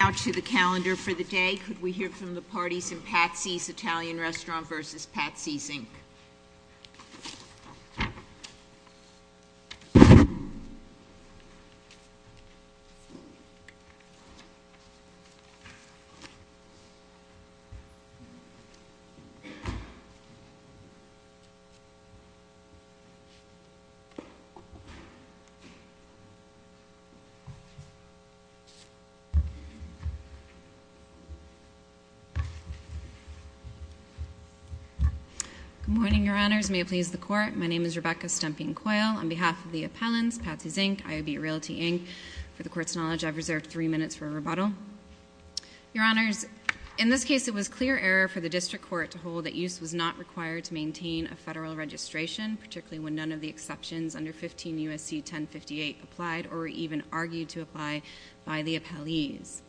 Could we hear from the parties in Patsy's Italian Restaurant versus Patsy's, Inc.? Good morning, Your Honors. May it please the Court, my name is Rebecca Stumping-Coyle. On behalf of the appellants, Patsy's, Inc., IOB Realty, Inc., for the Court's knowledge, I've reserved three minutes for rebuttal. Your Honors, in this case, it was clear error for the District Court to hold that use was not required to maintain a federal registration, particularly when none of the exceptions under 15 U.S.C. 1058 applied or were even argued to apply by the appellees.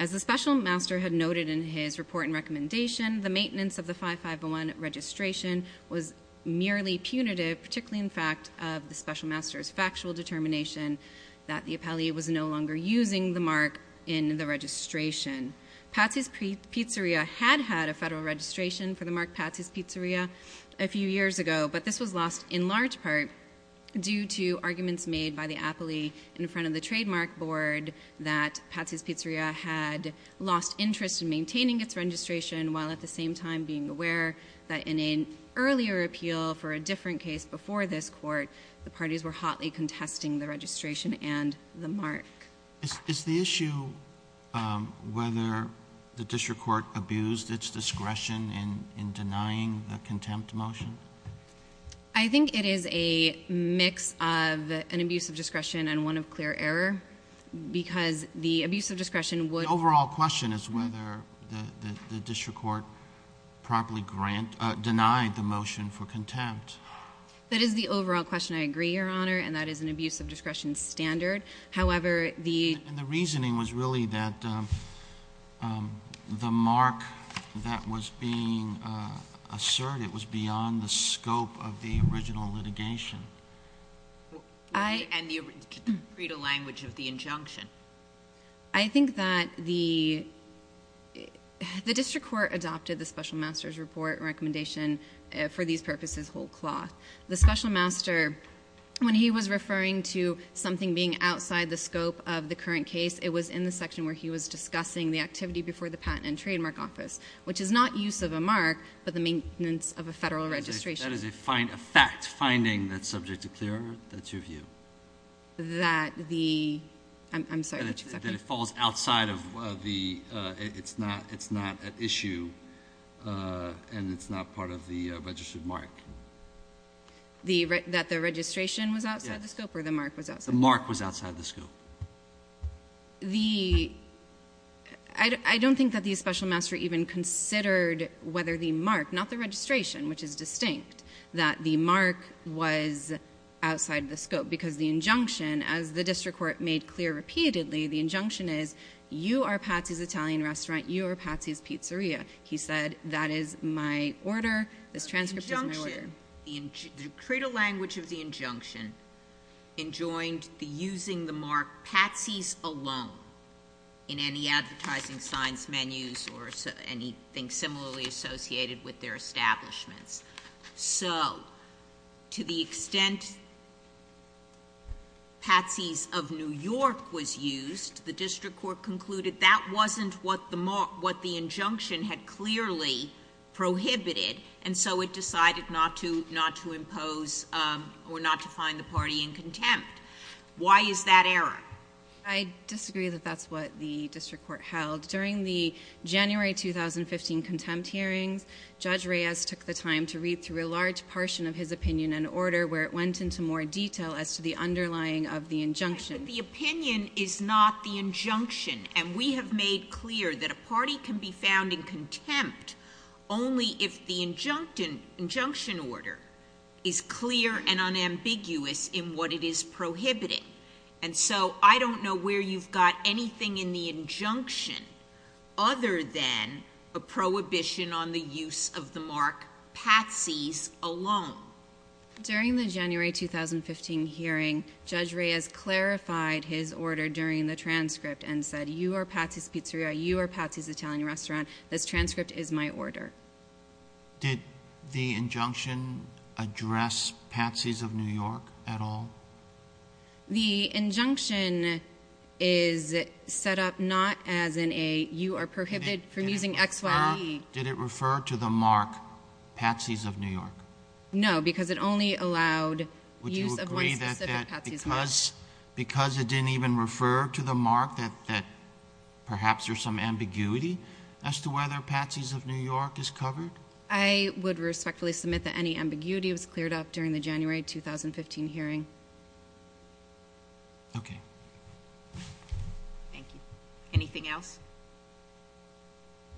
As the Special Master had noted in his report and recommendation, the maintenance of the 5501 registration was merely punitive, particularly in fact of the Special Master's factual determination that the appellee was no longer using the mark in the registration. Patsy's Pizzeria had had a federal registration for the mark Patsy's Pizzeria a few years ago, but this was lost in large part due to arguments made by the Trademark Board that Patsy's Pizzeria had lost interest in maintaining its registration while at the same time being aware that in an earlier appeal for a different case before this Court, the parties were hotly contesting the registration and the mark. Is the issue whether the District Court abused its discretion in denying the contempt motion? I think it is a mix of an abuse of discretion and one of clear error, because the abuse of discretion would The overall question is whether the District Court properly denied the motion for contempt. That is the overall question. I agree, Your Honor, and that is an abuse of discretion standard. However, the And the reasoning was really that the mark that was being asserted was beyond the scope of the original litigation. And the credo language of the injunction. I think that the District Court adopted the Special Master's Report recommendation for these purposes whole cloth. The Special Master, when he was referring to something being outside the scope of the current case, it was in the section where he was discussing the activity before the Patent and Trademark Office, which is not use of a mark, but the maintenance of a federal registration. That is a fact, finding that's subject to clear error. That's your view? That the, I'm sorry, would you exactly That it falls outside of the, it's not an issue and it's not part of the registered mark. That the registration was outside the scope or the mark was outside the scope? The mark was outside the scope. The, I don't think that the Special Master even considered whether the mark, not the registration, which is distinct, that the mark was outside the scope. Because the injunction, as the District Court made clear repeatedly, the injunction is, you are Patsy's Italian Restaurant, you are Patsy's Pizzeria. He said, that is my order, this transcript is my order. The decree to language of the injunction enjoined the using the mark Patsy's alone in any advertising signs, menus, or anything similarly associated with their establishments. So, to the extent Patsy's of New York was used, the District Court concluded that wasn't what the injunction had clearly prohibited and so it decided not to impose or not to find the party in contempt. Why is that error? I disagree that that's what the District Court held. During the January 2015 contempt hearings, Judge Reyes took the time to read through a large portion of his opinion and order where it went into more detail as to the underlying of the injunction. The opinion is not the injunction and we have made clear that a party can be found in contempt only if the injunction order is clear and unambiguous in what it is prohibiting. And so, I don't know where you've got anything in the injunction other than a prohibition on the use of the mark Patsy's alone. During the January 2015 hearing, Judge Reyes clarified his order during the transcript and said you are Patsy's Pizzeria, you are Patsy's Italian Restaurant, this transcript is my order. Did the injunction address Patsy's of New York at all? The injunction is set up not as in a you are prohibited from using X, Y, E. Did it refer to the mark Patsy's of New York? No, because it only allowed use of one specific Patsy's mark. Would you agree that because it didn't even refer to the mark that perhaps there's some ambiguity as to whether Patsy's of New York is covered? I would respectfully submit that any ambiguity was cleared up during the January 2015 hearing. Okay. Thank you. Anything else?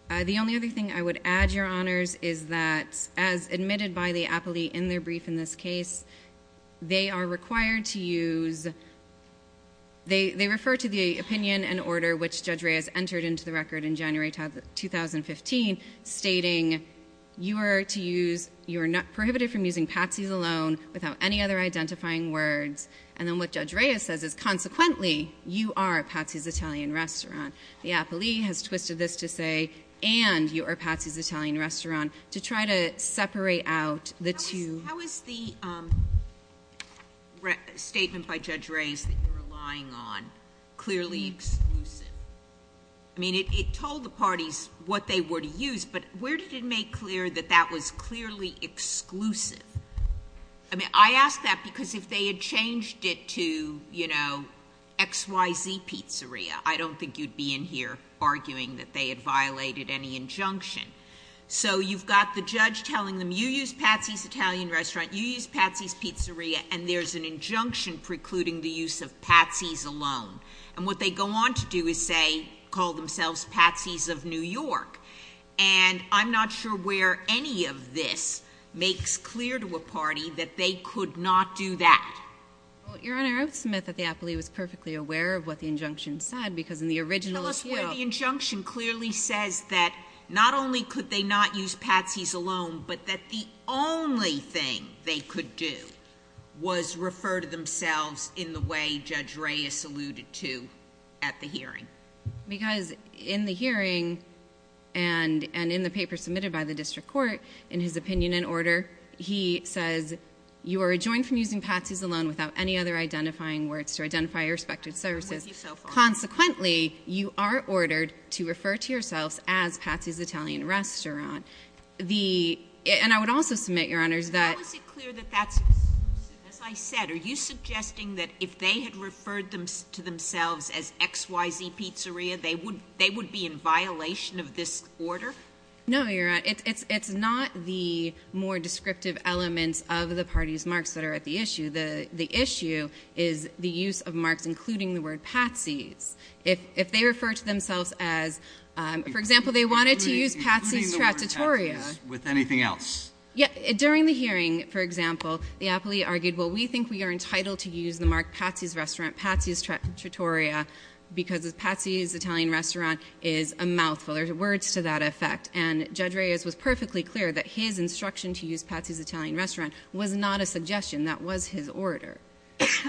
The only other thing I would add, Your Honors, is that as admitted by the appellee in their brief in this case, they are required to use, they refer to the opinion and order which Judge Reyes entered into the record in January 2015 stating you are to use, you are not prohibited from using Patsy's alone without any other identifying words. And then what Judge Reyes says is consequently you are Patsy's Italian Restaurant. The appellee has twisted this to say and you are Patsy's Italian Restaurant to try to separate out the two. How is the statement by Judge Reyes that you're relying on clearly exclusive? I mean, it told the parties what they were to use, but where did it make clear that that was clearly exclusive? I mean, I ask that because if they had changed it to, you know, X, Y, Z pizzeria, I don't think you'd be in here arguing that they had violated any injunction. So you've got the judge telling them you use Patsy's Italian Restaurant, you use Patsy's Pizzeria, and there's an injunction precluding the use of Patsy's alone. And what they go on to do is say, call themselves Patsy's of New York. And I'm not sure where any of this makes clear to a party that they could not do that. Well, Your Honor, I would submit that the appellee was perfectly aware of what the injunction said, because in the original appeal— Tell us where the injunction clearly says that not only could they not use Patsy's alone, but that the only thing they could do was refer to themselves in the way Judge Reyes alluded to at the hearing. Because in the hearing and in the paper submitted by the district court, in his opinion and order, he says, you are adjoined from using Patsy's alone without any other identifying words to identify your respective services. Consequently, you are ordered to refer to yourselves as Patsy's Italian Restaurant. And I would also submit, Your Honor, that— How is it clear that that's—as I said, are you suggesting that if they had referred to themselves as XYZ Pizzeria, they would be in violation of this order? No, Your Honor, it's not the more descriptive elements of the party's marks that are at the issue. The issue is the use of marks including the word Patsy's. If they refer to themselves as—for example, they wanted to use Patsy's Trattatoria— Including the word Patsy's with anything else? Yeah. During the hearing, for example, the appealee argued, well, we think we are entitled to use the mark Patsy's Restaurant, Patsy's Trattatoria, because Patsy's Italian Restaurant is a mouthful. There's words to that effect. And Judge Reyes was perfectly clear that his instruction to use Patsy's Italian Restaurant was not a suggestion. That was his order.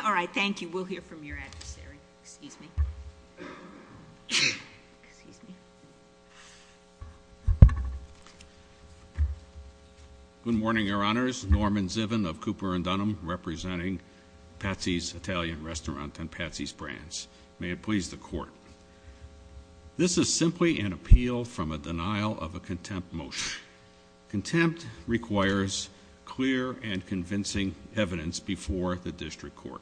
All right. Thank you. We'll hear from your adversary. Excuse me. Excuse me. Good morning, Your Honors. Norman Zivin of Cooper & Dunham representing Patsy's Italian Restaurant and Patsy's Brands. May it please the Court. This is simply an appeal from a denial of a contempt motion. Contempt requires clear and convincing evidence before the district court.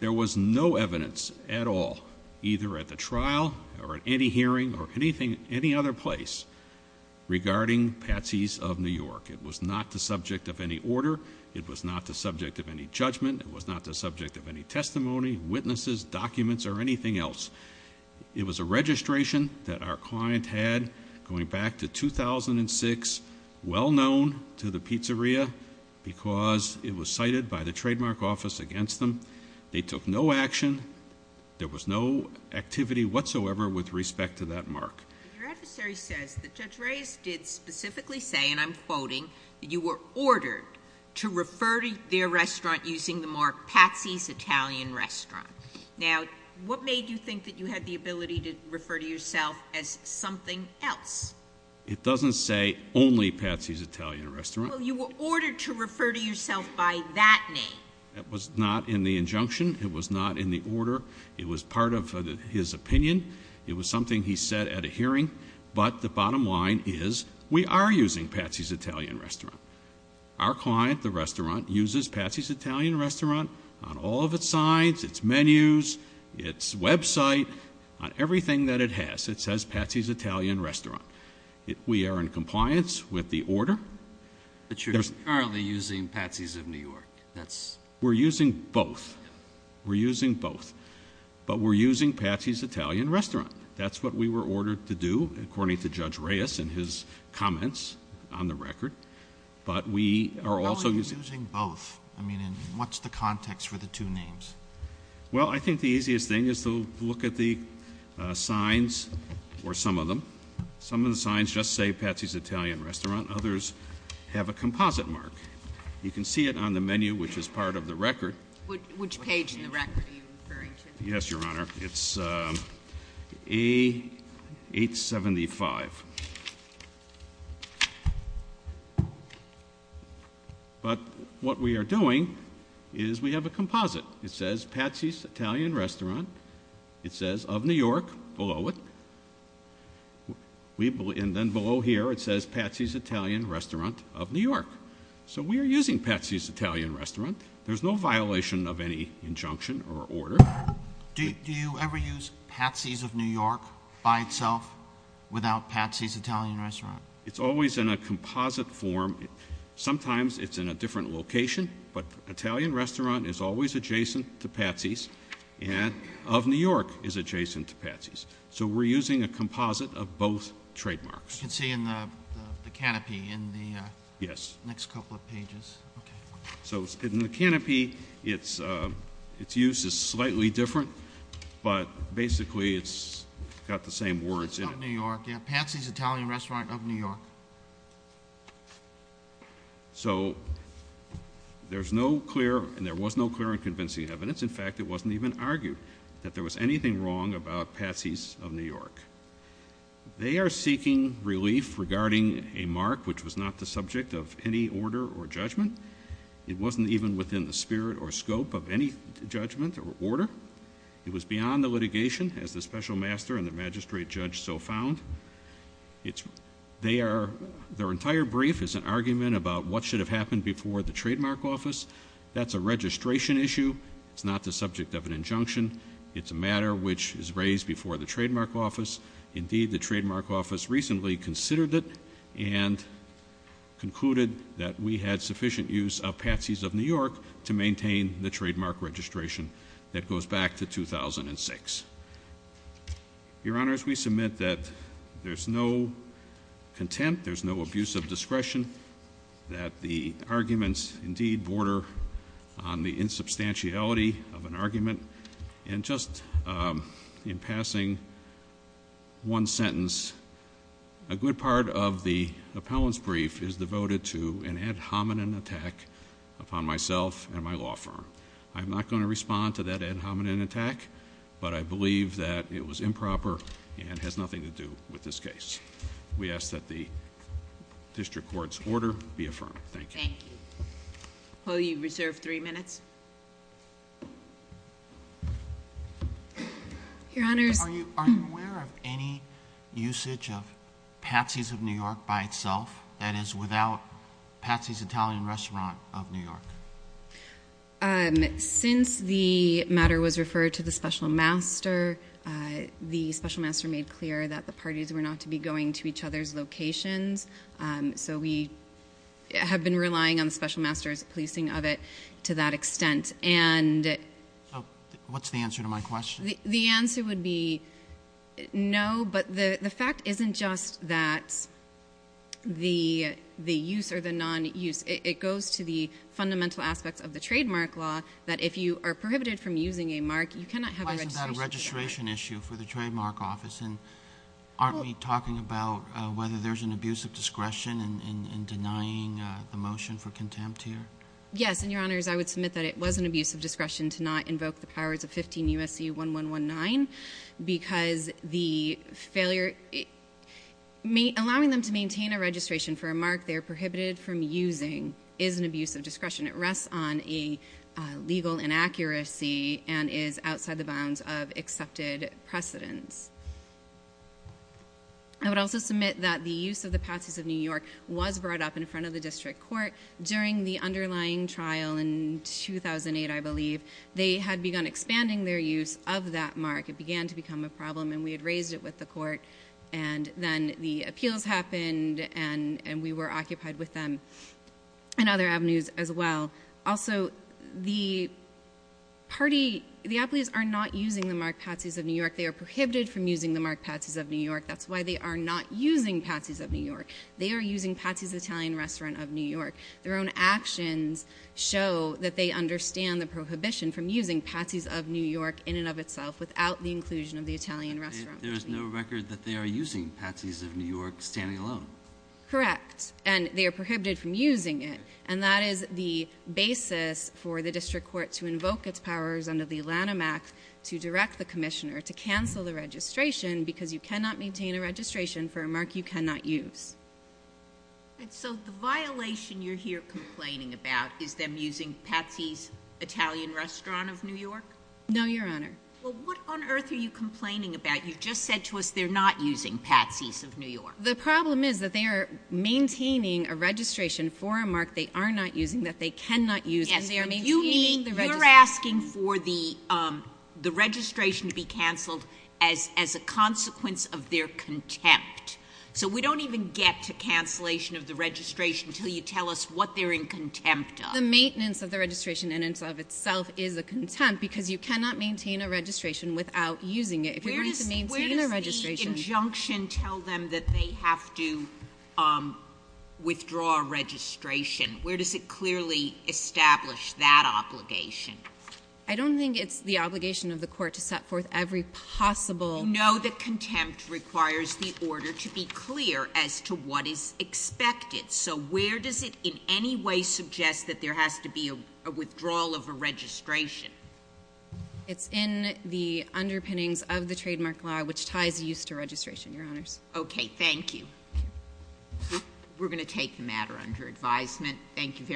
There was no evidence at all, either at the trial or at any hearing or at any other place regarding Patsy's of New York. It was not the subject of any order. It was not the subject of any judgment. It was not the subject of any testimony, witnesses, documents, or anything else. It was a registration that our client had going back to 2006, well known to the pizzeria because it was cited by the trademark office against them. They took no action. There was no activity whatsoever with respect to that mark. Your adversary says that Judge Reyes did specifically say, and I'm quoting, that you were ordered to refer to their restaurant using the mark Patsy's Italian Restaurant. Now, what made you think that you had the ability to refer to yourself as something else? It doesn't say only Patsy's Italian Restaurant. Well, you were ordered to refer to yourself by that name. That was not in the injunction. It was not in the order. It was part of his opinion. It was something he said at a hearing. But the bottom line is, we are using Patsy's Italian Restaurant. Our client, the restaurant, uses Patsy's Italian Restaurant on all of its signs, its menus, its website, on everything that it has. It says Patsy's Italian Restaurant. We are in compliance with the order. But you're currently using Patsy's of New York. That's- We're using both. We're using both. But we're using Patsy's Italian Restaurant. That's what we were ordered to do, according to Judge Reyes and his comments on the record. But we are also- How are you using both? I mean, and what's the context for the two names? Well, I think the easiest thing is to look at the signs, or some of them. Some of the signs just say Patsy's Italian Restaurant. Others have a composite mark. You can see it on the menu, which is part of the record. Which page in the record are you referring to? Yes, Your Honor. It's A875. But what we are doing is we have a composite. It says Patsy's Italian Restaurant. It says of New York below it. And then below here it says Patsy's Italian Restaurant of New York. So we are using Patsy's Italian Restaurant. There's no violation of any injunction or order. Do you ever use Patsy's of New York by itself without Patsy's Italian Restaurant? It's always in a composite form. Sometimes it's in a different location, but Italian Restaurant is always adjacent to Patsy's. And of New York is adjacent to Patsy's. So we're using a composite of both trademarks. You can see in the canopy in the next couple of pages. So in the canopy, its use is slightly different, but basically it's got the same words in it. Patsy's of New York, yeah, Patsy's Italian Restaurant of New York. So there's no clear, and there was no clear and convincing evidence. In fact, it wasn't even argued that there was anything wrong about Patsy's of New York. They are seeking relief regarding a mark which was not the subject of any order or judgment. It wasn't even within the spirit or scope of any judgment or order. It was beyond the litigation as the special master and the magistrate judge so found. Their entire brief is an argument about what should have happened before the trademark office. That's a registration issue, it's not the subject of an injunction. It's a matter which is raised before the trademark office. Indeed, the trademark office recently considered it and concluded that we had sufficient use of Patsy's of New York to maintain the trademark registration that goes back to 2006. Your honors, we submit that there's no contempt, there's no abuse of discretion. That the arguments indeed border on the insubstantiality of an argument. And just in passing one sentence, a good part of the appellant's brief is devoted to an ad hominem attack upon myself and my law firm. I'm not going to respond to that ad hominem attack, but I believe that it was improper and has nothing to do with this case. We ask that the district court's order be affirmed. Thank you. Thank you. Will you reserve three minutes? Your honors. Are you aware of any usage of Patsy's of New York by itself? That is without Patsy's Italian Restaurant of New York. Since the matter was referred to the special master, the special master made clear that the parties were not to be going to each other's locations. So we have been relying on the special master's policing of it to that extent. And- So what's the answer to my question? The answer would be no, but the fact isn't just that the use or the non-use, it goes to the fundamental aspects of the trademark law. That if you are prohibited from using a mark, you cannot have a registration- Why isn't that a registration issue for the trademark office? And aren't we talking about whether there's an abuse of discretion in denying the motion for contempt here? Yes, and your honors, I would submit that it was an abuse of discretion to not invoke the powers of 15 U.S.C. 1119. Because the failure, allowing them to maintain a registration for a mark they are prohibited from using is an abuse of discretion. It rests on a legal inaccuracy and is outside the bounds of accepted precedence. I would also submit that the use of the Patsy's of New York was brought up in front of the district court during the underlying trial in 2008, I believe. They had begun expanding their use of that mark. It began to become a problem and we had raised it with the court. And then the appeals happened and we were occupied with them and other avenues as well. Also, the party, the athletes are not using the mark Patsy's of New York. They are prohibited from using the mark Patsy's of New York. That's why they are not using Patsy's of New York. They are using Patsy's Italian Restaurant of New York. Their own actions show that they understand the prohibition from using Patsy's of New York in and of itself without the inclusion of the Italian restaurant. There is no record that they are using Patsy's of New York standing alone. Correct. And they are prohibited from using it. And that is the basis for the district court to invoke its powers under the Lanham Act to direct the commissioner to cancel the registration. Because you cannot maintain a registration for a mark you cannot use. And so the violation you're here complaining about is them using Patsy's Italian Restaurant of New York? No, your honor. Well, what on earth are you complaining about? You just said to us they're not using Patsy's of New York. The problem is that they are maintaining a registration for a mark they are not using that they cannot use. Yes, but you're asking for the registration to be canceled as a consequence of their contempt. So we don't even get to cancellation of the registration until you tell us what they're in contempt of. The maintenance of the registration in and of itself is a contempt because you cannot maintain a registration without using it. If you're going to maintain a registration- Where does the injunction tell them that they have to withdraw registration? Where does it clearly establish that obligation? I don't think it's the obligation of the court to set forth every possible- No, the contempt requires the order to be clear as to what is expected. So where does it in any way suggest that there has to be a withdrawal of a registration? It's in the underpinnings of the trademark law, which ties use to registration, your honors. Okay, thank you. We're going to take the matter under advisement. Thank you very-